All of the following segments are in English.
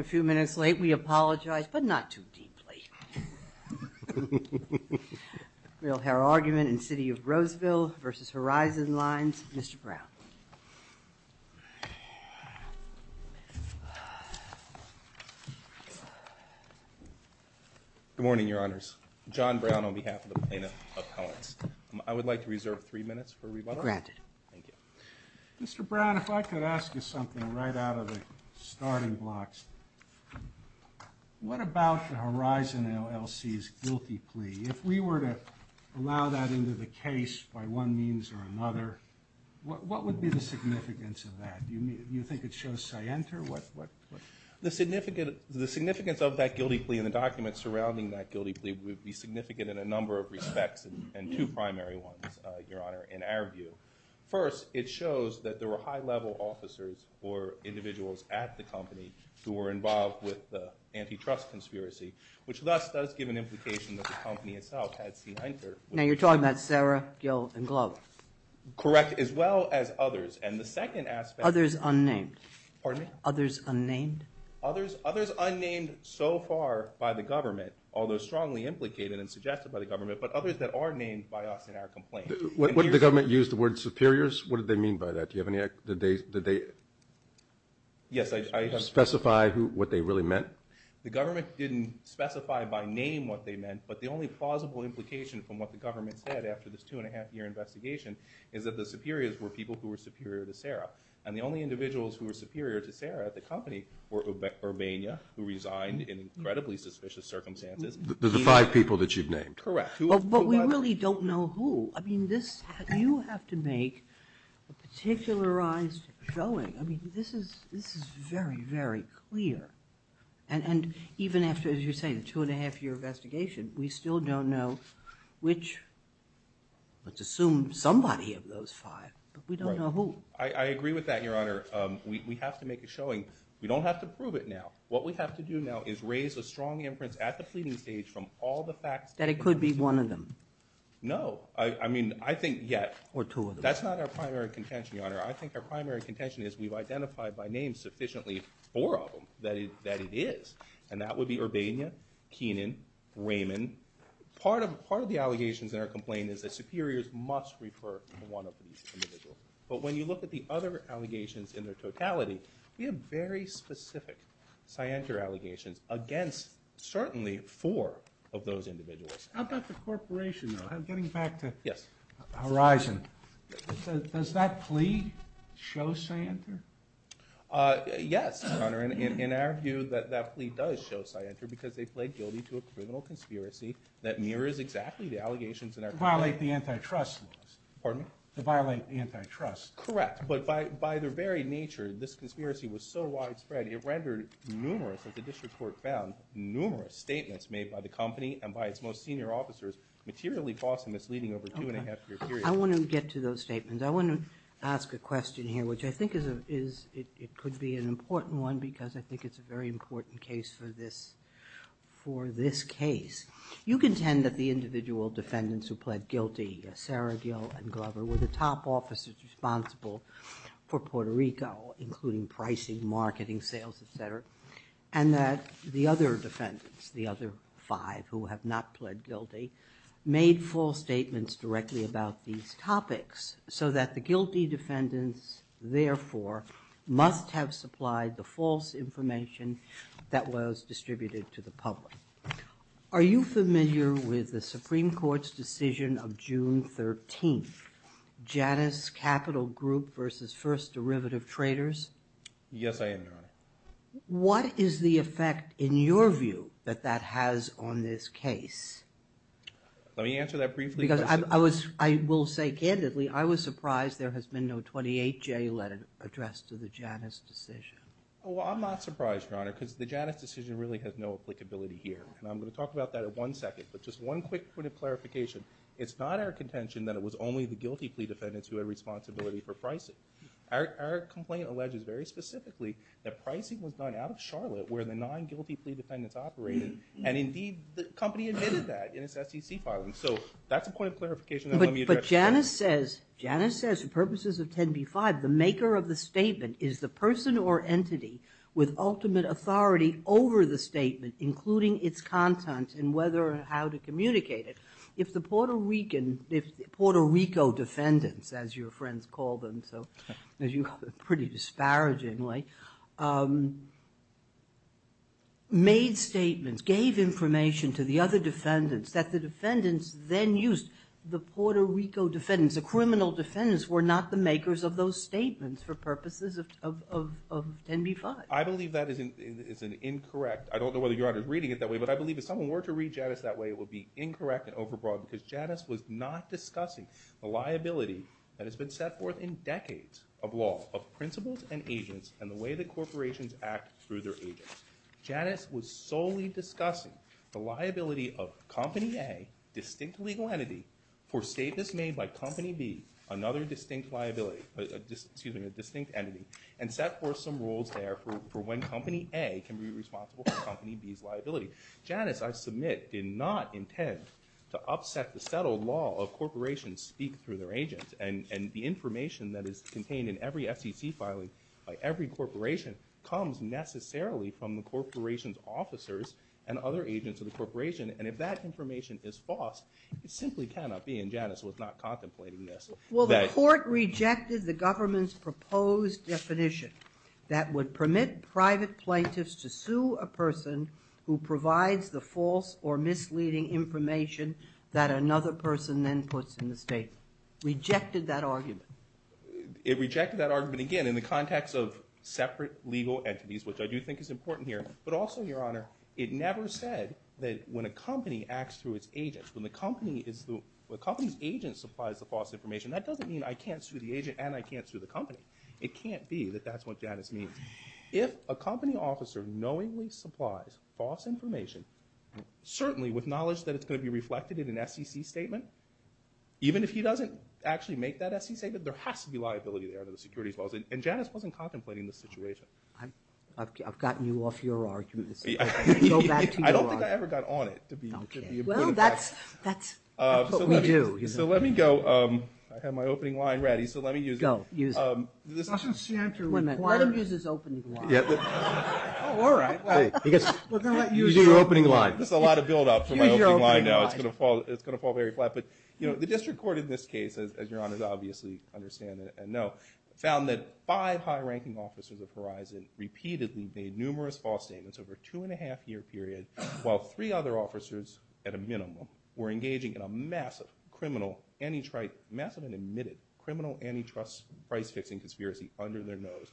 A few minutes late we apologize but not too deeply. Real hair argument in city of Roseville versus Horizon Lines. Mr. Brown. Good morning your honors. John Brown on behalf of the Plaintiff Appellants. I would like to reserve three minutes for rebuttal. Mr. Brown if I could ask you something right out of the starting blocks. What about the Horizon LLC's guilty plea? If we were to allow that into the case by one means or another what would be the significance of that? Do you think it shows scienter? The significance of that guilty plea in the documents surrounding that guilty plea would be significant in a number of respects and two primary ones your honor in our view. First it shows that there were high level officers or individuals at the company who were involved with the antitrust conspiracy which thus does give an implication that the company itself had scienter. Now you're talking about Sarah, Gil, and Glow. Correct as well as others and the second aspect. Others unnamed. Pardon me? Others unnamed. Others others unnamed so far by the government although strongly implicated and suggested by the government but others that are named by us in our complaint. Would the government use the word superiors? What did they mean by that? Do they specify what they really meant? The government didn't specify by name what they meant but the only plausible implication from what the government said after this two and a half year investigation is that the superiors were people who were superior to Sarah and the only individuals who were superior to Sarah at the company were Urbana who resigned in incredibly suspicious circumstances. The five people that you've named? Correct. But we really don't know who. I mean this you have to make a particularized showing. I mean this is this is very very clear and and even after as you're saying two and a half year investigation we still don't know which let's assume somebody of those five but we don't know who. I agree with that your honor. We have to make a showing. We don't have to prove it now. What we have to do now is raise a strong inference at the pleading stage from all the facts. That it could be one of them? No I mean I think yet or two of them. That's not our primary contention your honor. I think our primary contention is we've identified by name sufficiently four of them that it that it is and that would be Urbana, Keenan, Raymond. Part of part of the allegations in our complaint is that superiors must refer to one of these individuals. But when you look at the other allegations in their certainly four of those individuals. How about the corporation? I'm getting back to yes Horizon. Does that plea show Scienter? Yes your honor. In our view that that plea does show Scienter because they played guilty to a criminal conspiracy that mirrors exactly the allegations in our complaint. To violate the antitrust laws. Pardon me? To violate the antitrust. Correct but by by their very nature this conspiracy was so statements made by the company and by its most senior officers materially false and misleading over two and a half years. I want to get to those statements. I want to ask a question here which I think is a is it could be an important one because I think it's a very important case for this for this case. You contend that the individual defendants who pled guilty Sarah Gill and Glover were the top officers responsible for Puerto Rico including pricing, marketing, sales, etc. and that the other defendants the other five who have not pled guilty made false statements directly about these topics so that the guilty defendants therefore must have supplied the false information that was distributed to the public. Are you familiar with the Supreme Court's decision of June 13th? Janus Capital Group versus First Derivative Traders? Yes I am. What is the effect in your view that that has on this case? Let me answer that briefly. Because I was I will say candidly I was surprised there has been no 28 J letter addressed to the Janus decision. Well I'm not surprised your honor because the Janus decision really has no applicability here and I'm going to talk about that at one second but just one quick point of clarification it's not our contention that it was only the guilty plea defendants who had responsibility for pricing. Our complaint alleges very specifically that pricing was done out of Charlotte where the non-guilty plea defendants operated and indeed the company admitted that in its SEC filing so that's a point of clarification. But Janus says Janus says for purposes of 10b-5 the maker of the statement is the person or entity with ultimate authority over the statement including its content and whether or how to communicate it. If the Puerto Rican if Puerto Rico defendants as your friends call them so as you pretty disparagingly made statements gave information to the other defendants that the defendants then used the Puerto Rico defendants the criminal defendants were not the makers of those statements for purposes of 10b-5. I believe that isn't it's an incorrect I don't know whether your honor is reading it that way but I believe if someone were to read Janus that way it would be incorrect and overbroad because Janus was not discussing the liability that has been set forth in decades of law of principles and agents and the way that corporations act through their agents. Janus was solely discussing the liability of company A distinct legal entity for statements made by company B another distinct liability excuse me a distinct entity and set forth some rules there for when company A can be liability. Janus I submit did not intend to upset the settled law of corporations speak through their agents and and the information that is contained in every SEC filing by every corporation comes necessarily from the corporation's officers and other agents of the corporation and if that information is false it simply cannot be and Janus was not contemplating this. Well the court rejected the government's proposed definition that would permit private plaintiffs to sue a person who provides the false or misleading information that another person then puts in the statement. Rejected that argument. It rejected that argument again in the context of separate legal entities which I do think is important here but also your honor it never said that when a company acts through its agents when the company is the company's agent supplies the false information that doesn't mean I can't sue the agent and I can't sue the company. It can't be that that's what Janus means. If a company officer knowingly supplies false information certainly with knowledge that it's going to be reflected in an SEC statement even if he doesn't actually make that SEC statement there has to be liability there to the securities laws and Janus wasn't contemplating the situation. I've gotten you off your argument. I don't think I ever got on it. So let me go I have my this is a lot of build up for my opening line now. It's gonna fall it's gonna fall very flat but you know the district court in this case as your honors obviously understand and know found that five high-ranking officers of horizon repeatedly made numerous false statements over two and a half year period while three other officers at a minimum were engaging in a massive criminal antitrust massive and admitted criminal antitrust price-fixing conspiracy under their nose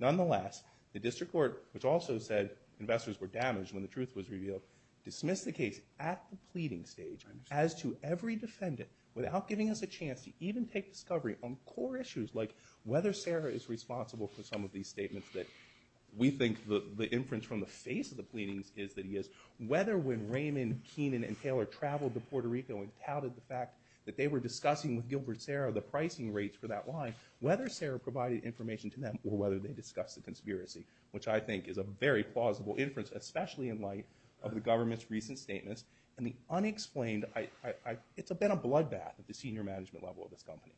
nonetheless the district court which also said investors were damaged when the truth was revealed dismissed the case at the pleading stage as to every defendant without giving us a chance to even take discovery on core issues like whether Sarah is responsible for some of these statements that we think the the inference from the face of the pleadings is that he is whether when Raymond Keenan and Taylor traveled to that they were discussing with Gilbert Sarah the pricing rates for that line whether Sarah provided information to them or whether they discussed the conspiracy which I think is a very plausible inference especially in light of the government's recent statements and the unexplained I it's a bit of bloodbath at the senior management level of this company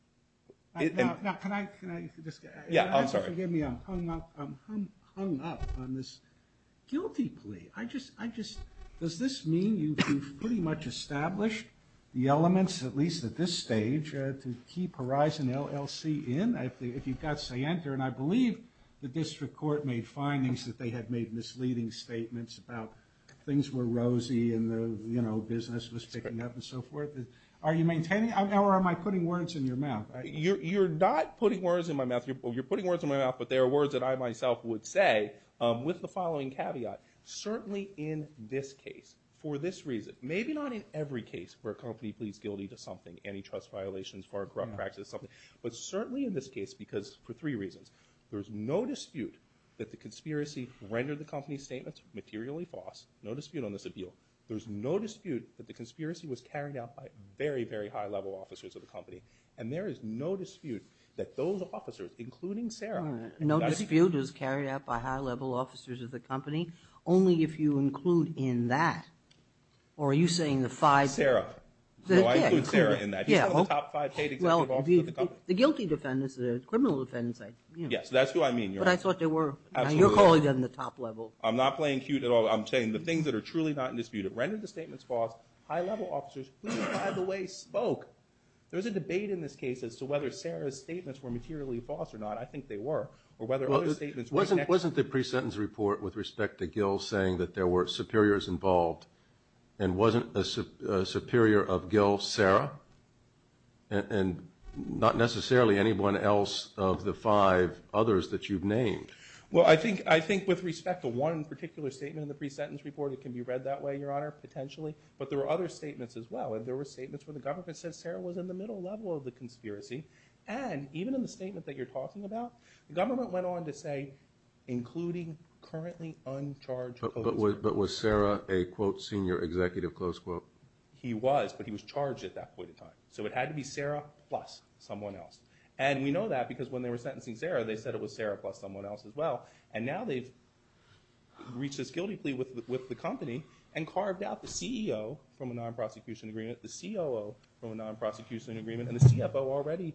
guilty plea I just I just does this mean you pretty much established the elements at least at this stage to keep horizon LLC in if you've got say enter and I believe the district court made findings that they had made misleading statements about things were rosy and the you know business was picking up and so forth are you maintaining our am I putting words in your mouth you're not putting words in my mouth you're putting words in my mouth but there are words that I myself would say with the following caveat certainly in this case for this reason maybe not in every case where a company pleads guilty to something any trust violations for a corrupt practice something but certainly in this case because for three reasons there's no dispute that the conspiracy rendered the company's statements materially false no dispute on this appeal there's no dispute that the conspiracy was carried out by very very high-level officers of the company and there is no dispute that those officers including Sarah no dispute is carried out by high-level officers of the company only if you include in that or are you saying the five Sarah the guilty defendants a criminal defendants I yes that's who I mean but I thought they were you're calling them the top level I'm not playing cute at all I'm saying the things that are truly not in dispute it rendered the statements false high-level officers by the way spoke there's a debate in this case as to whether Sarah's statements were materially false or not I think they were or whether other statements wasn't wasn't the pre-sentence report with respect to saying that there were superiors involved and wasn't a superior of Gil Sarah and not necessarily anyone else of the five others that you've named well I think I think with respect to one particular statement in the pre-sentence report it can be read that way your honor potentially but there are other statements as well and there were statements where the government said Sarah was in the middle level of the conspiracy and even in the statement that you're talking about the government went on to say including currently but was Sarah a quote senior executive close quote he was but he was charged at that point of time so it had to be Sarah plus someone else and we know that because when they were sentencing Sarah they said it was Sarah plus someone else as well and now they've reached this guilty plea with the company and carved out the CEO from a non-prosecution agreement the COO from a non-prosecution agreement and the CFO already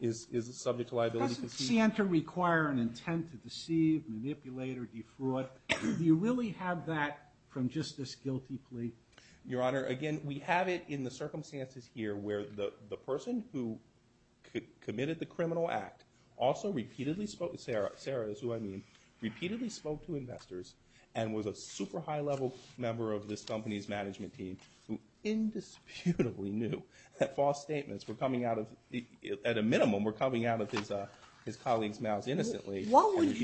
is subject to liability to Santa require an intent to deceive manipulator defraud do you really have that from just this guilty plea your honor again we have it in the circumstances here where the the person who committed the criminal act also repeatedly spoke with Sarah Sarah's who I mean repeatedly spoke to investors and was a super high-level member of this company's management team who indisputably knew that false statements were coming out of the at a minimum we're coming out of his uh his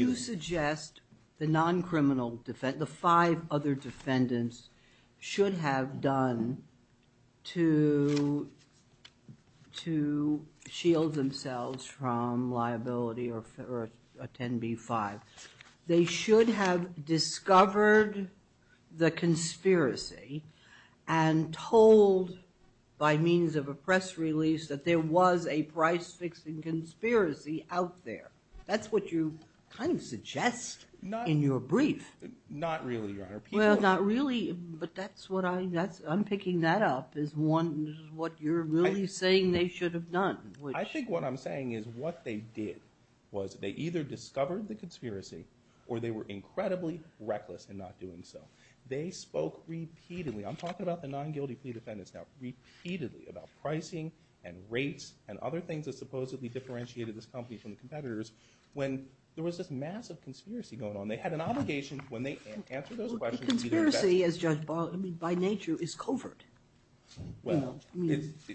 you suggest the non-criminal defense the five other defendants should have done to to shield themselves from liability or for a 10b5 they should have discovered the conspiracy and told by means of a press release that there was a price-fixing conspiracy out there that's what you kind of suggest not in your brief not really well not really but that's what I that's I'm picking that up is one what you're really saying they should have done I think what I'm saying is what they did was they either discovered the conspiracy or they were incredibly reckless and not doing so they spoke repeatedly I'm talking about the non-guilty plea defendants now repeatedly about pricing and rates and other things that supposedly differentiated this company from the competitors when there was this massive conspiracy going on they had an obligation when they by nature is covert well it's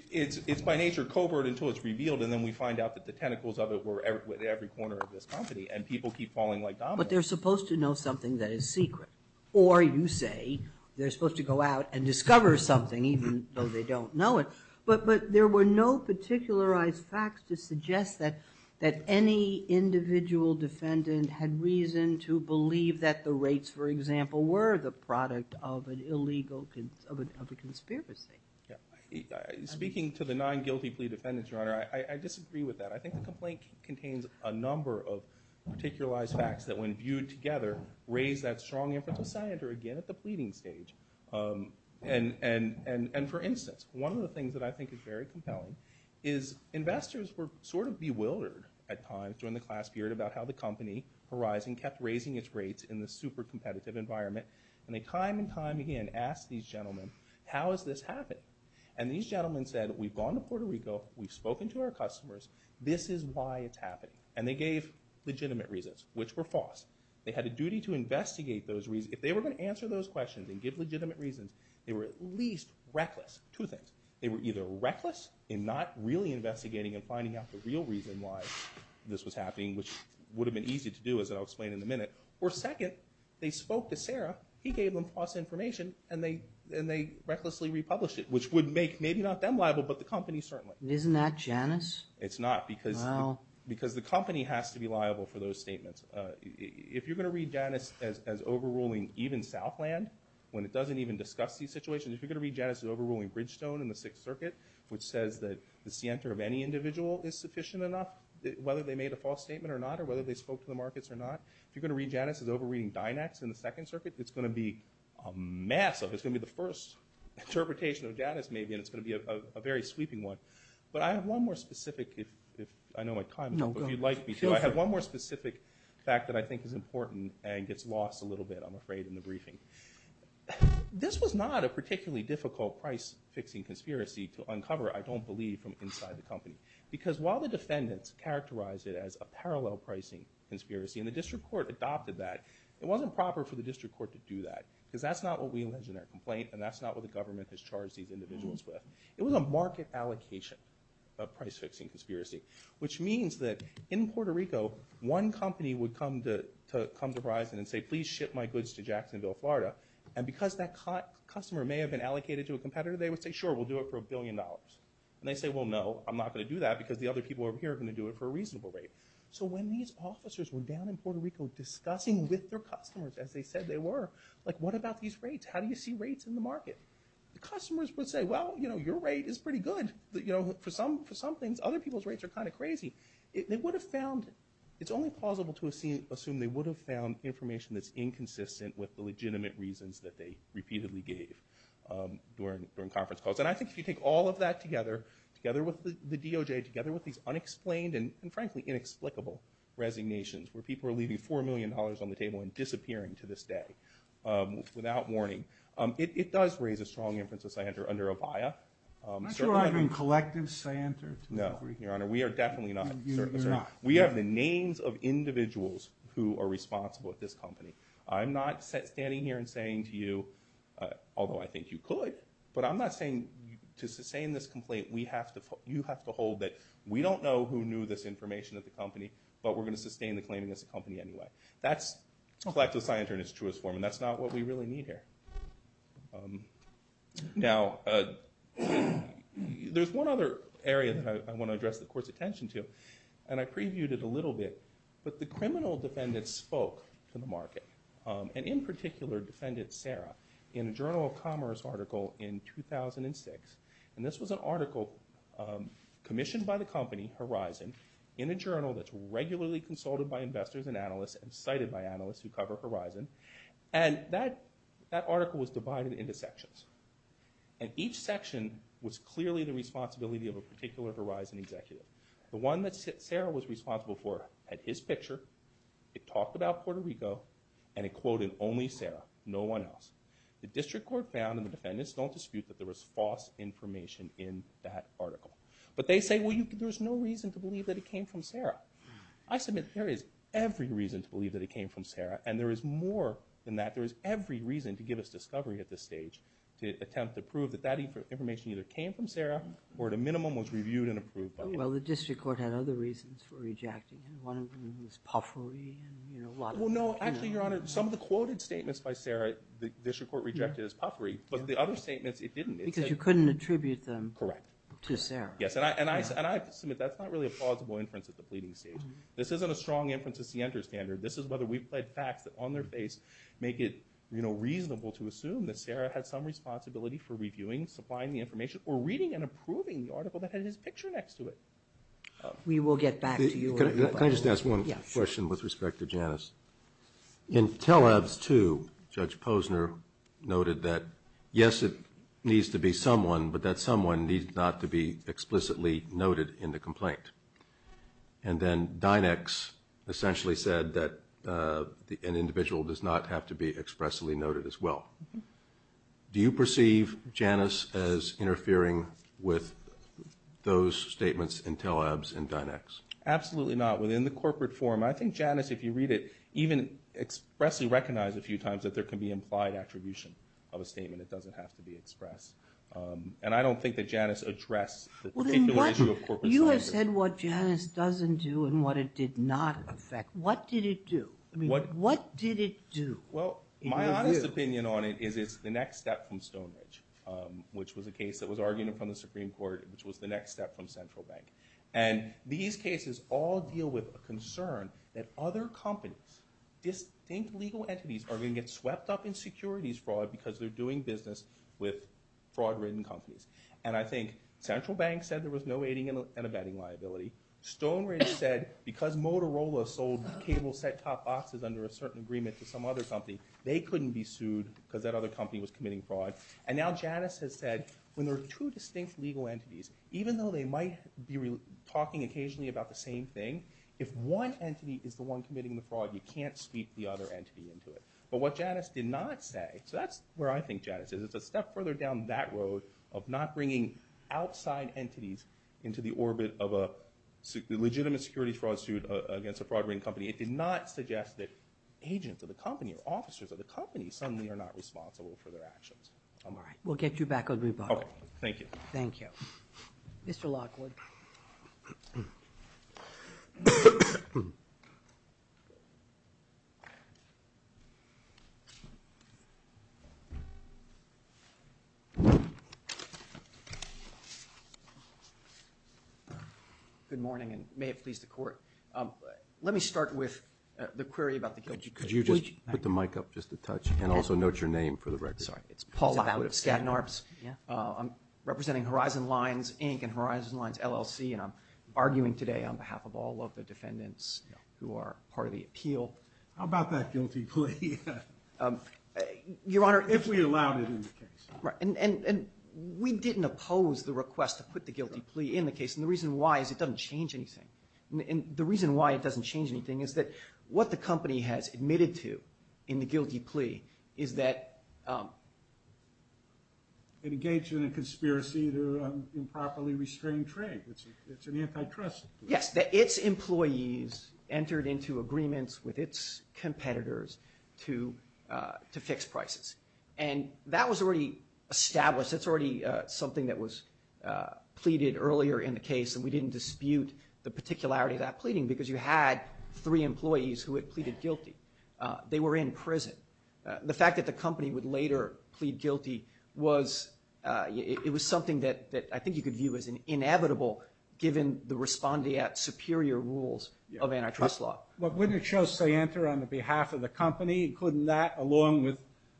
it's by nature covert until it's revealed and then we find out that the tentacles of it were with every corner of this company and people keep falling like but they're supposed to know something that is secret or you say they're supposed to go out and discover something even though they don't know it but but there were no particularized facts to suggest that that any individual defendant had reason to believe that the rates for example were the product of an illegal kids of a conspiracy speaking to the nine guilty plea defendants your honor I disagree with that I think the complaint contains a number of particularized facts that when viewed together raise that strong influence I enter again at the pleading stage and and and and for instance one of the things that I think is very compelling is investors were sort of bewildered at times during the class period about how the company horizon kept raising its rates in the super competitive environment and they time and time again asked these gentlemen how is this happening and these gentlemen said we've gone to Puerto Rico we've spoken to our customers this is why it's happening and they gave legitimate reasons which were false they had a duty to investigate those reasons if they were going to answer those questions and give legitimate reasons they were at least reckless two things they were either reckless in not really investigating and finding out the real reason why this was happening which would have been easy to do as I'll explain in a minute or second they spoke to Sarah he gave them false information and they and they recklessly republish it which would make maybe not them liable but the company certainly isn't that Janice it's not because well because the company has to be liable for those statements if you're gonna read Janice as overruling even Southland when it doesn't even discuss these situations if you're gonna read Janice is overruling Bridgestone in the Sixth Circuit which says that the center of any individual is sufficient enough whether they made a false statement or not or whether they spoke to the markets or not if you're gonna read Janice is over reading Dynex in the Second Circuit it's gonna be a massive it's gonna be the first interpretation of Janice maybe and it's gonna be a very sweeping one but I have one more specific fact that I think is important and gets lost a little bit I'm afraid in the briefing this was not a particularly difficult price fixing conspiracy to uncover I don't believe from inside the company because while the defendants characterized it as a parallel pricing conspiracy and the district court adopted that it wasn't proper for the district court to do that because that's not what we allege in their complaint and that's not what the price fixing conspiracy which means that in Puerto Rico one company would come to come to Verizon and say please ship my goods to Jacksonville Florida and because that caught customer may have been allocated to a competitor they would say sure we'll do it for a billion dollars and they say well no I'm not gonna do that because the other people over here are gonna do it for a reasonable rate so when these officers were down in Puerto Rico discussing with their customers as they said they were like what about these rates how do you see rates in the market the customers would say well you know your rate is pretty good you know for some for some things other people's rates are kind of crazy it would have found it's only plausible to assume they would have found information that's inconsistent with the legitimate reasons that they repeatedly gave during during conference calls and I think if you take all of that together together with the DOJ together with these unexplained and frankly inexplicable resignations where people are leaving four million dollars on the table and disappearing to this day without warning it does raise a collective Santa no your honor we are definitely not we have the names of individuals who are responsible at this company I'm not standing here and saying to you although I think you could but I'm not saying to sustain this complaint we have to you have to hold that we don't know who knew this information at the company but we're gonna sustain the claiming this company anyway that's lack of science in its truest form and that's not what we really need here now there's one other area that I want to address the course attention to and I previewed it a little bit but the criminal defendants spoke to the market and in particular defendant Sarah in a Journal of Commerce article in 2006 and this was an article commissioned by the company horizon in a journal that's horizon and that that article was divided into sections and each section was clearly the responsibility of a particular horizon executive the one that's it Sarah was responsible for at his picture it talked about Puerto Rico and it quoted only Sarah no one else the district court found in the defendants don't dispute that there was false information in that article but they say well you could there's no reason to believe that it came from Sarah I there is more than that there is every reason to give us discovery at this stage to attempt to prove that that information either came from Sarah or at a minimum was reviewed and approved by well the district court had other reasons for rejecting and one of them was puffery and you know a lot well no actually your honor some of the quoted statements by Sarah the district court rejected as puffery but the other statements it didn't because you couldn't attribute them correct to Sarah yes and I said and I submit that's not really a plausible inference at the pleading stage this isn't a strong inferences the enter standard this is whether we've played facts that on their face make it you know reasonable to assume that Sarah had some responsibility for reviewing supplying the information or reading and approving the article that had his picture next to it we will get back to you can I just ask one question with respect to Janice in tell us to judge Posner noted that yes it needs to be someone but that someone needs not to be explicitly noted in the essentially said that an individual does not have to be expressly noted as well do you perceive Janice as interfering with those statements until abs and dynamics absolutely not within the corporate form I think Janice if you read it even expressly recognize a few times that there can be implied attribution of a statement it doesn't have to be expressed and I don't think that Janice address you have said what Janice doesn't do and what it did not affect what did it do what what did it do well my honest opinion on it is it's the next step from Stonehenge which was a case that was argued upon the Supreme Court which was the next step from Central Bank and these cases all deal with a concern that other companies distinct legal entities are going to get swept up in securities fraud because they're doing business with fraud written companies and I think Central Bank said there was no aiding and assault cable set-top boxes under a certain agreement to some other company they couldn't be sued because that other company was committing fraud and now Janice has said when there are two distinct legal entities even though they might be talking occasionally about the same thing if one entity is the one committing the fraud you can't sweep the other entity into it but what Janice did not say so that's where I think Janice is it's a step further down that road of not bringing outside entities into the orbit of a legitimate security fraud against a fraud ring company it did not suggest that agents of the company or officers of the company suddenly are not responsible for their actions all right we'll get you back on rebuttal thank you thank you mr. Lockwood good morning and may it please the court let me start with the query about the guilt you could you just put the mic up just a touch and also note your name for the record sorry it's Paul out of Staten Arbs yeah I'm representing Horizon Lines Inc and Horizon Lines LLC and I'm arguing today on behalf of all of the defendants who are part of the appeal how about that guilty plea your honor if we allowed it in the case right and and we didn't oppose the request to put the guilty plea in the case and the reason why is it doesn't change anything and the reason why it doesn't change anything is that what the company has admitted to in the guilty plea is that it engaged in a conspiracy to improperly restrain trade it's an antitrust yes that its employees entered into agreements with its competitors to to fix prices and that was already established that's already something that was pleaded earlier in the case and we didn't dispute the particularity of that pleading because you had three employees who had pleaded guilty they were in prison the fact that the company would later plead guilty was it was something that that I think you could view as an inevitable given the respondee at superior rules of antitrust law but when it shows say enter on the behalf of the company couldn't that along with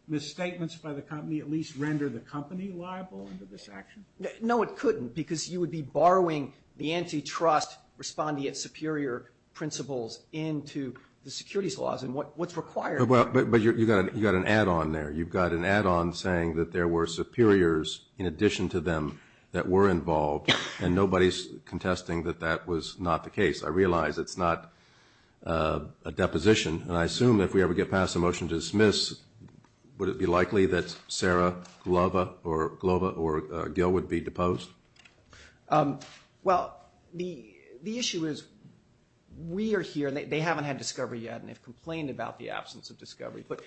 misstatements by the company at least render the company liable under this action no it couldn't because you would be borrowing the antitrust respondee at superior principles into the securities laws and what what's required but you got it you got an add-on there you've got an add-on saying that there were superiors in addition to them that were involved and nobody's contesting that that was not the case I realize it's not a deposition and I assume if we ever get past the motion to dismiss would it be likely that Sarah Glova or Glova or Gil would be deposed well the the issue is we are here they haven't had discovery yet and they've complained about the absence of discovery but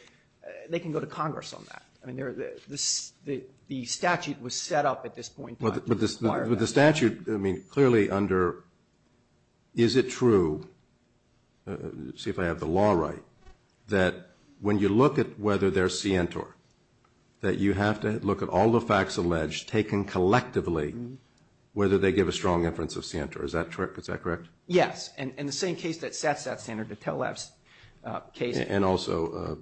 they can go to Congress on that I mean they're this the the statute was set up at this point but this the statute I mean clearly under is it true see if I have the law right that when you look at whether they're scientor that you have to look at all the facts alleged taken collectively whether they give a strong inference of scientor is that trick is that correct yes and in the same case that sets that standard to tell us case and also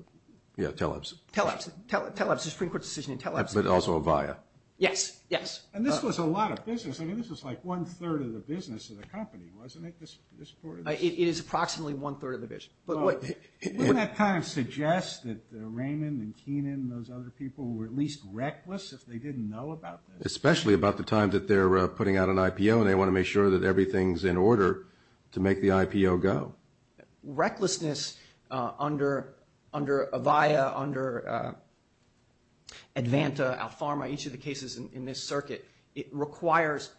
yeah tell us tell us tell us the Supreme Court decision and tell us but also via yes yes and this was a lot of business I mean this is like one third of the business of the company wasn't it this it is approximately one third of the vision but what that kind suggests that Raymond and Keenan those other people were at least reckless if they didn't know about this especially about the time that they're putting out an IPO and they want to make sure that everything's in order to make the IPO go recklessness under under a via under Advanta Alfama each of the cases in this circuit it requires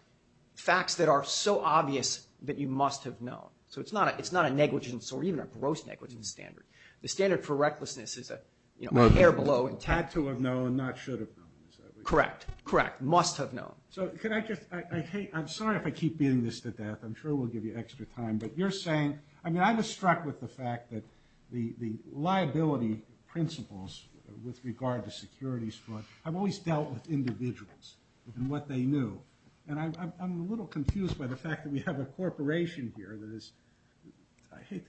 facts that are so obvious that you must have known so it's not it's not a negligence or even a gross negligence standard the standard for recklessness is that you know hair below and tattoo of no and not should have correct correct must have known so can I just I hate I'm sorry if I keep being this to death I'm sure we'll give you extra time but you're saying I mean I was struck with the fact that the the liability principles with regard to securities fraud I've always dealt with individuals and what they knew and I'm a little confused by the fact that we have a corporation here that is I hate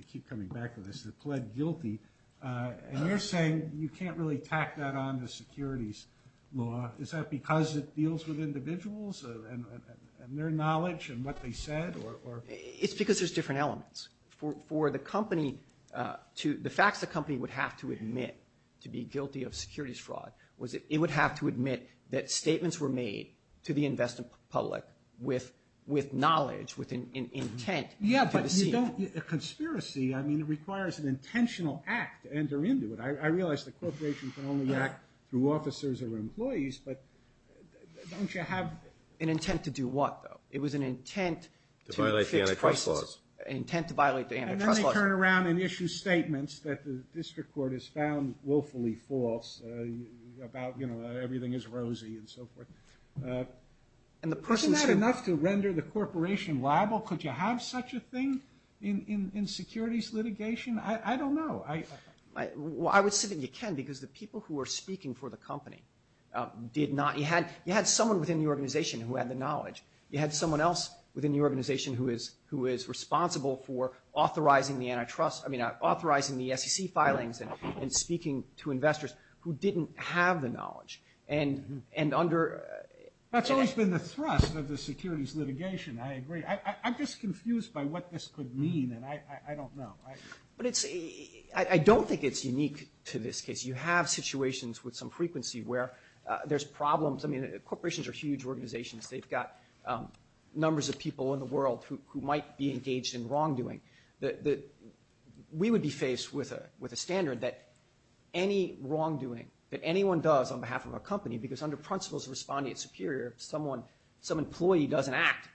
you're saying you can't really tack that on the securities law is that because it deals with individuals and their knowledge and what they said or it's because there's different elements for the company to the facts the company would have to admit to be guilty of securities fraud was it would have to admit that statements were made to the investment public with with knowledge within intent yeah but you don't get a conspiracy I mean it requires an intentional act enter into it I realized the corporation can only act through officers or employees but don't you have an intent to do what though it was an intent to violate the antitrust laws intent to violate the antitrust turn around and issue statements that the district court has found willfully false about you know everything is rosy and so forth and the person said enough to render the corporation liable could you have such a thing in in securities litigation I don't know I well I would say that you can because the people who are speaking for the company did not you had you had someone within the organization who had the knowledge you had someone else within the organization who is who is responsible for authorizing the antitrust I mean authorizing the SEC filings and speaking to investors who didn't have the knowledge and and under that's always been the thrust of the securities litigation I agree I'm just confused by what this could mean and I don't know I but it's a I don't think it's unique to this case you have situations with some frequency where there's problems I mean corporations are huge organizations they've got numbers of people in the world who might be engaged in wrongdoing that we would be faced with a with a standard that any wrongdoing that anyone does on behalf of a company because under principles of responding it's superior someone some employee doesn't act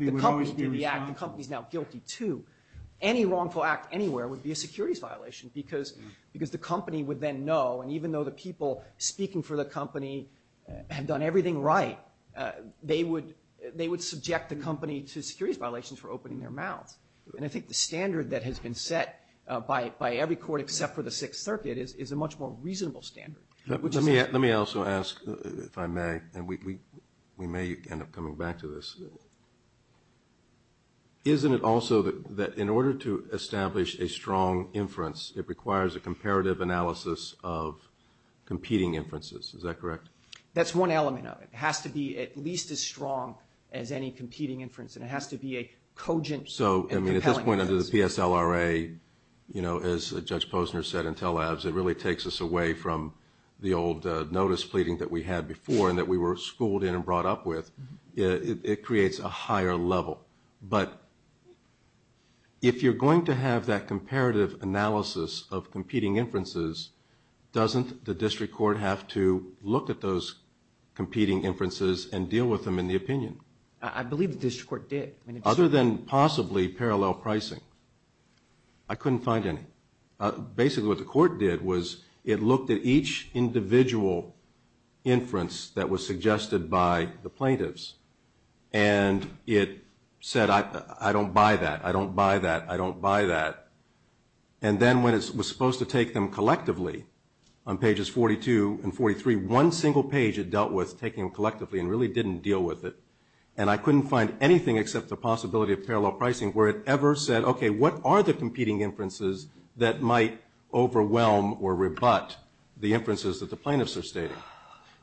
the company's now guilty to any wrongful act anywhere would be a securities violation because because the company would then know and even though the people speaking for the company have done everything right they would they would subject the company to securities violations for opening their mouths and I think the standard that has been set by it by every court except for the Sixth Circuit is a much more reasonable standard let me let me also ask if I may and we may end up coming back to this isn't it also that that in order to establish a strong inference it requires a comparative analysis of competing inferences is that correct that's one element of it has to be at least as strong as any competing inference and it has to be a cogent so I mean at this point under the PSLRA you know as Judge Posner said Intel Labs it really takes us away from the old notice pleading that we had before and that we were schooled in and brought up with it creates a higher level but if you're going to have that comparative analysis of competing inferences doesn't the district court have to look at those competing inferences and deal with them in the opinion I believe the district court did other than possibly parallel pricing I couldn't find any basically what the court did was it looked at each individual inference that was suggested by the plaintiffs and it said I don't buy that I don't buy that I don't buy that and then when it was supposed to take them collectively on pages 42 and 43 one single page it dealt with taking collectively and really didn't deal with it and I couldn't find anything except the possibility of parallel pricing where it ever said okay what are the competing inferences that might overwhelm or rebut the inferences that the plaintiffs are stating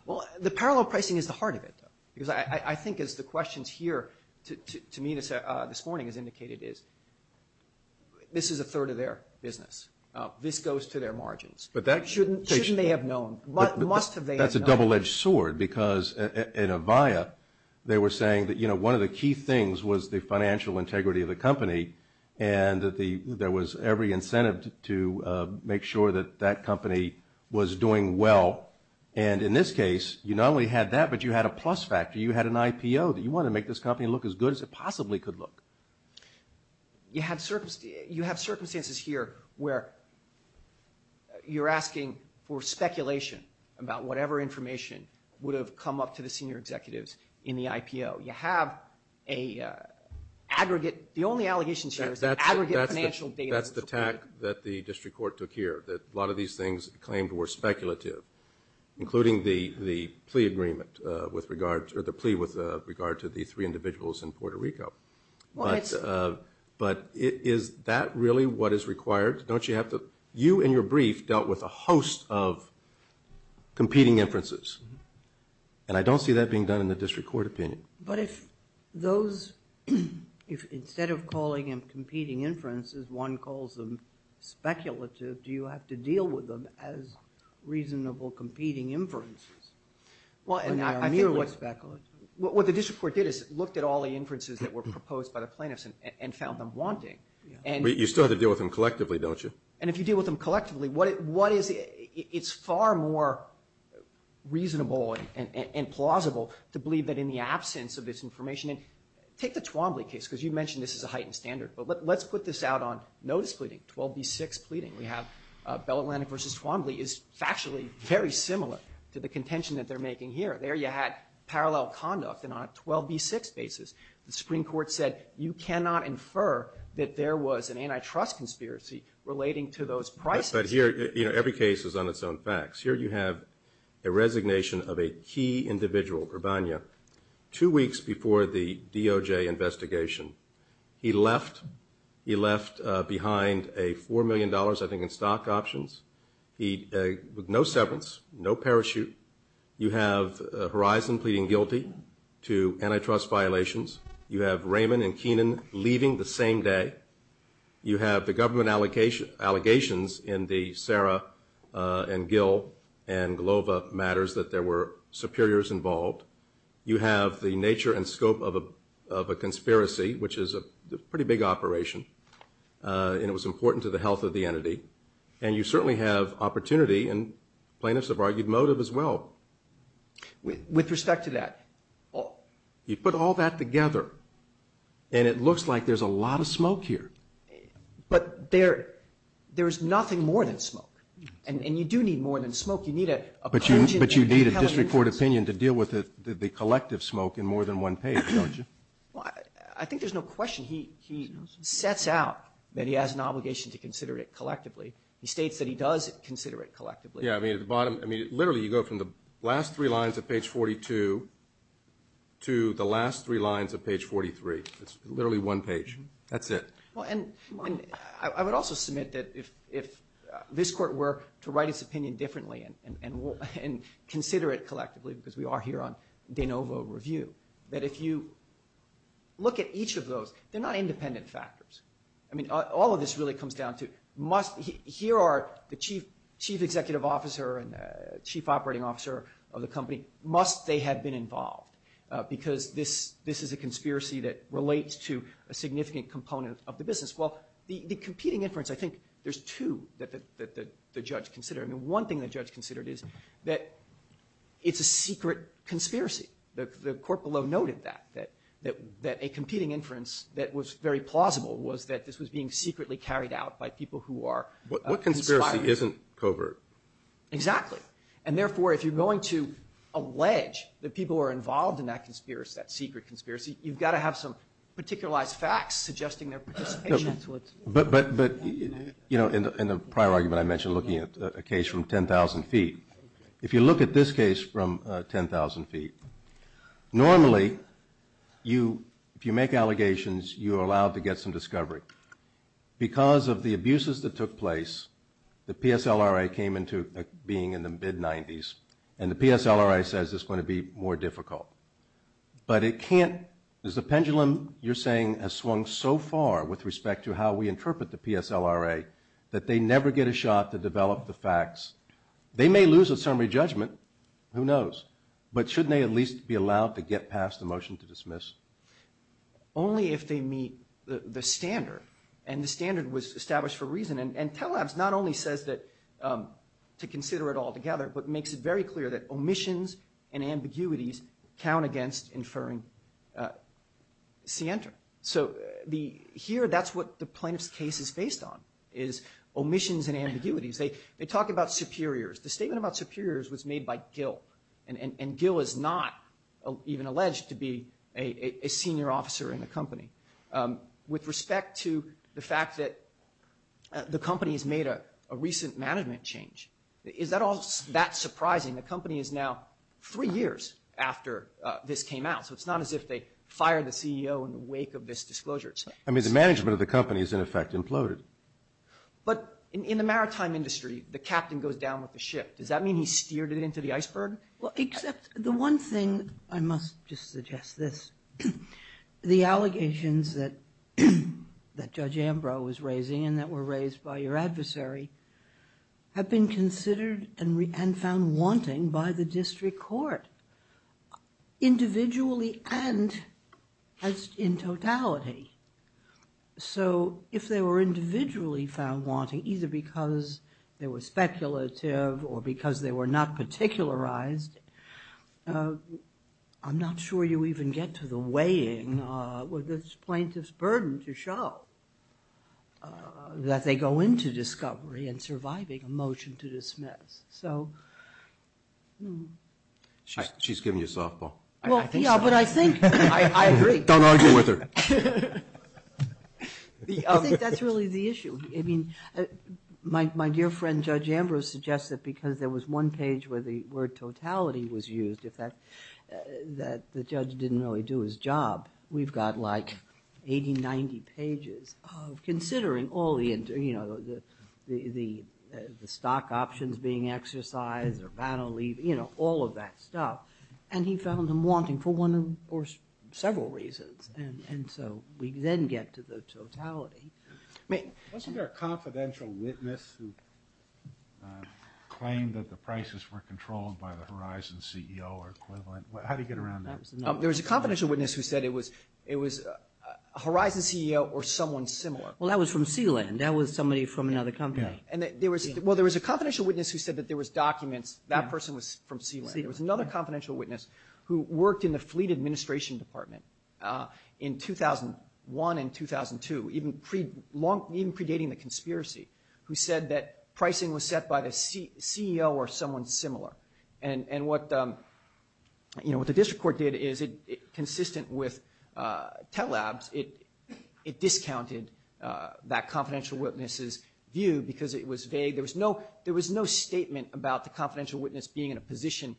well the parallel pricing is the heart of it because I think as the questions here to me this morning has indicated is this is a third of their business this goes to their margins but that shouldn't shouldn't they have known but must have that's a double-edged sword because in Avaya they were saying that you know one of the key things was the financial integrity of the company and that the there was every incentive to make sure that that company was doing well and in this case you not only had that but you had a plus factor you had an IPO that you want to make this company look as good as it possibly could look you had circumstance you have circumstances here where you're asking for speculation about whatever information would have come up to the senior executives in the IPO you have a aggregate the only allegations that's the attack that the district court took here that a lot of these things claimed were speculative including the the plea agreement with regard to the plea with regard to the three individuals in Puerto Rico but but is that really what is required don't you have to you and your brief dealt with a host of competing inferences and I don't see that being done in the district court opinion but if those if instead of calling him competing inferences one calls them speculative do you have to deal with them as reasonable competing inferences well and I'm here what speculative what the district court did is looked at all the inferences that were proposed by the plaintiffs and found them wanting and you started deal with them collectively don't you and if you deal with them collectively what it what is it's far more reasonable and plausible to believe that in the absence of this information and take the Twombly case because you mentioned this is a heightened standard but let's put this out on notice pleading 12b6 pleading we have Bell Atlantic versus Twombly is factually very similar to the contention that they're making here there you had parallel conduct and on a 12b6 basis the Supreme Court said you cannot infer that there was an antitrust conspiracy relating to those prices but here you know every case is on its own facts here you have a resignation of a key individual Urbana two weeks before the stock options he no severance no parachute you have horizon pleading guilty to antitrust violations you have Raymond and Keenan leaving the same day you have the government allocation allegations in the Sarah and Gil and Glover matters that there were superiors involved you have the nature and scope of a of a conspiracy which is a pretty big operation and it was important to the health of the entity and you certainly have opportunity and plaintiffs of argued motive as well with respect to that oh you put all that together and it looks like there's a lot of smoke here but there there is nothing more than smoke and you do need more than smoke you need a but you but you need a district court opinion to deal with it the collective smoke in more than one page I think there's no question he sets out that he has an obligation to consider it collectively he states that he does consider it collectively I mean the bottom I mean literally you go from the last three lines of page 42 to the last three lines of page 43 it's literally one page that's it and I would also submit that if if this court were to write its opinion differently and consider it collectively because we are here on de novo review that if you look at each of those they're not independent factors I mean all of this really comes down to must here are the chief chief executive officer and chief operating officer of the company must they have been involved because this this is a conspiracy that relates to a significant component of the business well the competing inference I think there's two that the judge considered I mean one thing that judge considered is that it's a secret conspiracy the court below noted that that that that a competing inference that was very plausible was that this was being secretly carried out by people who are what conspiracy isn't covert exactly and therefore if you're going to allege that people are involved in that conspiracy that secret conspiracy you've got to have some particularized facts suggesting their but but but you know in the prior argument I mentioned looking at a case from 10,000 feet if you look at this case from 10,000 feet normally you if you make allegations you are allowed to get some discovery because of the abuses that took place the PSLR I came into being in the mid-nineties and the PSLR I says it's going to be more difficult but it can't is the pendulum you're saying a swung so far with respect to how we interpret the PSLR a that they never get a shot to develop the facts they may lose a summary judgment who knows but shouldn't they at get past the motion to dismiss only if they meet the standard and the standard was established for reason and and tell us not only says that to consider it all together but makes it very clear that omissions and ambiguities count against inferring Sienta so the here that's what the plaintiff's case is based on is omissions and ambiguities they they talk about superiors the deal is not even alleged to be a senior officer in the company with respect to the fact that the company has made a recent management change is that all that surprising the company is now three years after this came out so it's not as if they fired the CEO in the wake of this disclosure I mean the management of the company is in effect imploded but in the maritime industry the captain goes down with the ship does that mean he steered it into the iceberg except the one thing I must just suggest this the allegations that that judge Ambrose raising and that were raised by your adversary have been considered and found wanting by the district court individually and in totality so if they were individually found wanting either because there was speculative or because they were not particularized I'm not sure you even get to the weighing with this plaintiff's burden to show that they go into discovery and surviving a the issue I mean my dear friend judge Ambrose suggests that because there was one page where the word totality was used if that that the judge didn't really do his job we've got like 80 90 pages of considering all the inter you know the the the stock options being exercised or battle leave you know all of that stuff and he found him wanting for one or several reasons and and so we then get to the totality. Wasn't there a confidential witness who claimed that the prices were controlled by the Horizon CEO or equivalent? How do you get around that? There was a confidential witness who said it was it was a Horizon CEO or someone similar. Well that was from Sealand that was somebody from another company. And there was well there was a confidential witness who said that there was documents that person was from Sealand. There was another confidential witness who worked in the fleet administration department in 2001 and 2002 even pre long even predating the conspiracy who said that pricing was set by the CEO or someone similar and and what you know what the district court did is it consistent with tell labs it it discounted that confidential witnesses view because it was vague there was no there was no statement about the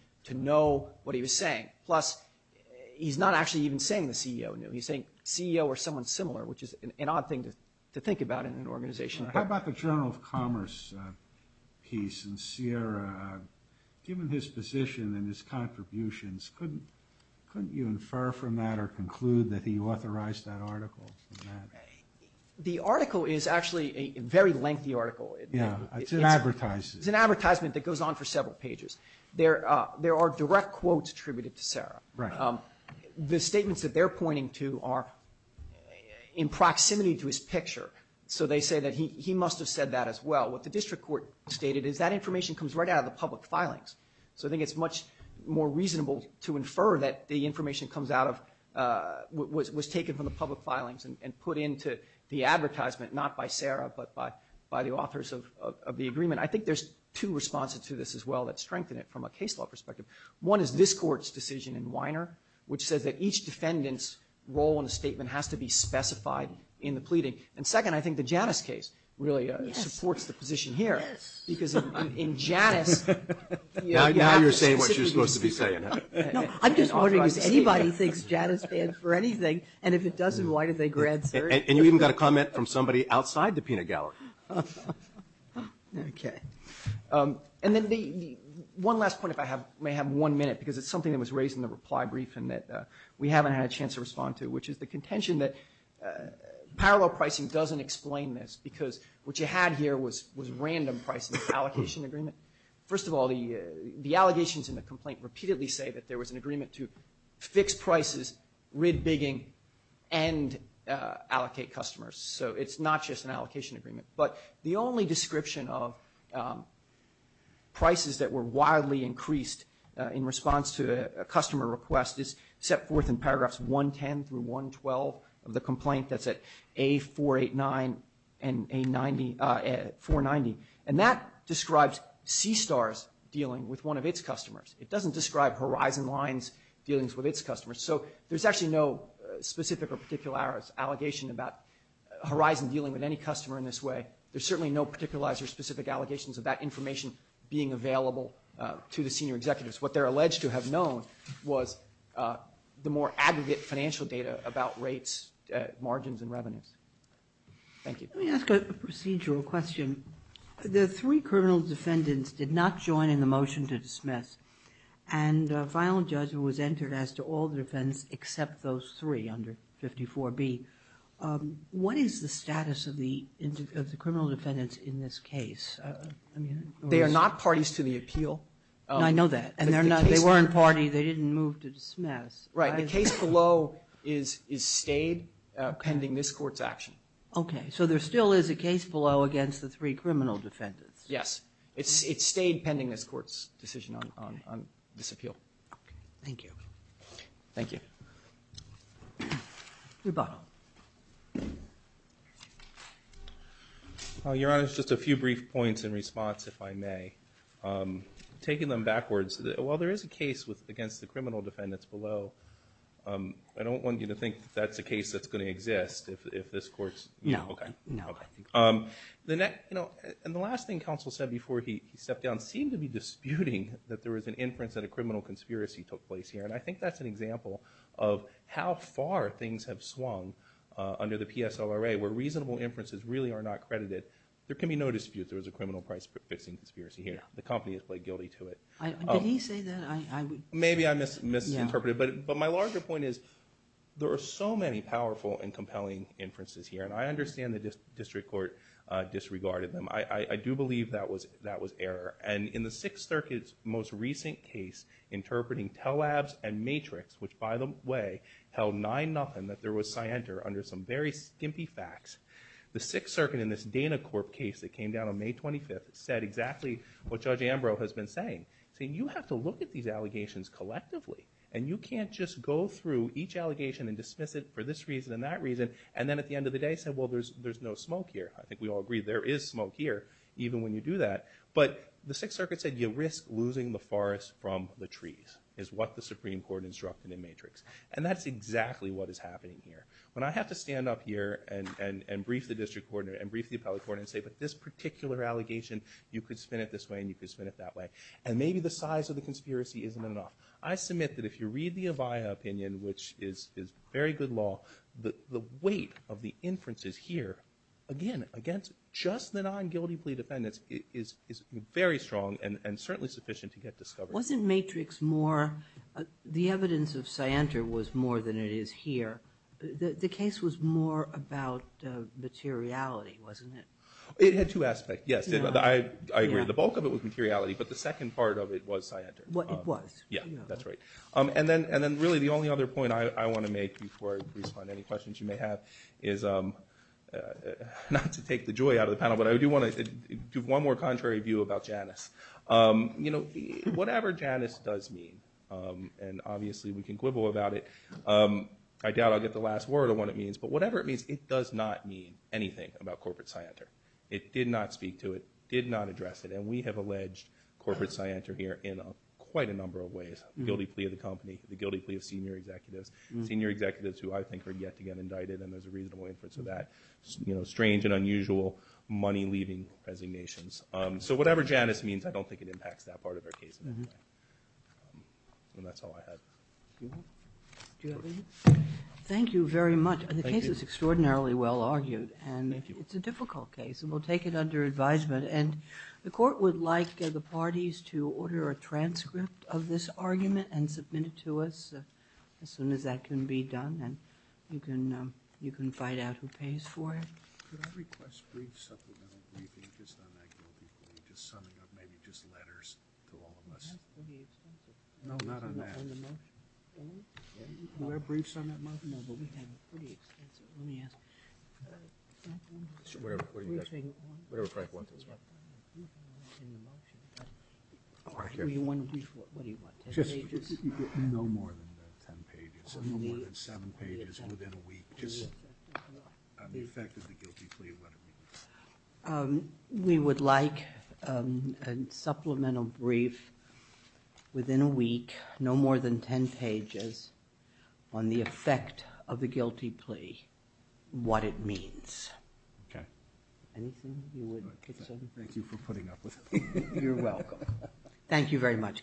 what he was saying plus he's not actually even saying the CEO knew he's saying CEO or someone similar which is an odd thing to think about in an organization. How about the Journal of Commerce piece and Sierra given his position and his contributions couldn't couldn't you infer from that or conclude that he authorized that article? The article is actually a very lengthy article. Yeah it's an advertisement. It's an advertisement that goes on for several months attributed to Sarah. Right. The statements that they're pointing to are in proximity to his picture so they say that he must have said that as well. What the district court stated is that information comes right out of the public filings. So I think it's much more reasonable to infer that the information comes out of what was taken from the public filings and put into the advertisement not by Sarah but by by the authors of the agreement. I think there's two responses to this as well that strengthen it from a case law perspective. One is this court's decision in Weiner which says that each defendants role in a statement has to be specified in the pleading and second I think the Janus case really supports the position here because in Janus. Now you're saying what you're supposed to be saying. I'm just wondering if anybody thinks Janus stands for anything and if it doesn't why did they grant Sarah? And you even got a comment from somebody outside the peanut gallery. Okay and then the one last point if I have may have one minute because it's something that was raised in the reply brief and that we haven't had a chance to respond to which is the contention that parallel pricing doesn't explain this because what you had here was was random pricing allocation agreement. First of all the the allegations in the complaint repeatedly say that there was an agreement to fix prices, rid bigging, and allocate customers. So it's not just an allocation agreement but the only description of prices that were wildly increased in response to a customer request is set forth in paragraphs 110 through 112 of the complaint that's at A489 and A490 and that describes C-STARS dealing with one of its customers. It doesn't describe Horizon Lines dealings with its customers. So there's actually no specific or particular allegation about Horizon dealing with any customer in this way. There's certainly no particular or specific allegations of that information being available to the senior executives. What they're alleged to have known was the more aggregate financial data about rates, margins, and revenues. Thank you. Let me ask a procedural question. The three criminal defendants did not join in the motion to dismiss and a violent judge was entered as to all defense except those three under 54B. What is the status of the criminal defendants in this case? They are not parties to the appeal. I know that and they're not they weren't party they didn't move to dismiss. Right the case below is is stayed pending this court's action. Okay so there still is a case below against the three criminal defendants. Yes it's it stayed pending this court's decision on this appeal. Thank you. Thank you. Your Honor, just a few brief points in response if I may. Taking them backwards, while there is a case with against the criminal defendants below, I don't want you to think that's a case that's going to exist if this court's. No, no. The net you know and the last thing counsel said before he stepped down seemed to be disputing that there was an inference that a criminal conspiracy took place here and I think that's an example of how far things have swung under the PSLRA where reasonable inferences really are not credited. There can be no dispute there was a criminal price-fixing conspiracy here. The company has played guilty to it. Did he say that? Maybe I misinterpreted but but my larger point is there are so many powerful and compelling inferences here and I understand the district court disregarded them. I do believe that was that was error and in the Sixth Circuit's most recent case interpreting Tel-Avs and Matrix which by the way held nine-nothing that there was scienter under some very skimpy facts. The Sixth Circuit in this Dana Corp case that came down on May 25th said exactly what Judge Ambrose has been saying. Saying you have to look at these allegations collectively and you can't just go through each allegation and dismiss it for this reason and that reason and then at the end of the day said well there's no smoke here. I think we all agree there is smoke here even when you do that but the Sixth Circuit said you risk losing the forest from the trees is what the Supreme Court instructed in Matrix and that's exactly what is happening here. When I have to stand up here and and and brief the district court and brief the appellate court and say but this particular allegation you could spin it this way and you could spin it that way and maybe the size of the conspiracy isn't enough. I submit that if you read the Avaya opinion which is is very good law that the weight of the inferences here again against just the non-guilty plea defendants is is very strong and and certainly sufficient to get discovered. Wasn't Matrix more the evidence of scienter was more than it is here. The case was more about materiality wasn't it? It had two aspects. Yes I agree the bulk of it was materiality but the second part of it was scienter. What it was? Yeah that's right and then and then really the only other point I want to make before I respond to any questions you may have is not to take the joy out of the panel but I do want to give one more contrary view about Janice. You know whatever Janice does mean and obviously we can quibble about it. I doubt I'll get the last word of what it means but whatever it means it does not mean anything about corporate scienter. It did not speak to it, did not address it and we have alleged corporate scienter here in quite a number of ways. Guilty plea of the company, the guilty plea of senior executives, senior executives who I think are yet to get indicted and there's a reasonable inference of that. You know strange and unusual money-leaving resignations. So whatever Janice means I don't think it impacts that part of our case and that's all I had. Thank you very much. The case is extraordinarily well argued and it's a difficult case and we'll take it under advisement and the court would like the transcript of this argument and submit it to us as soon as that can be done and you can you can find out who pays for it. We would like a supplemental brief within a week no more than 10 pages on the effect of the guilty plea, what it means. Okay. Thank you for putting up with it. Thank you very much counsel.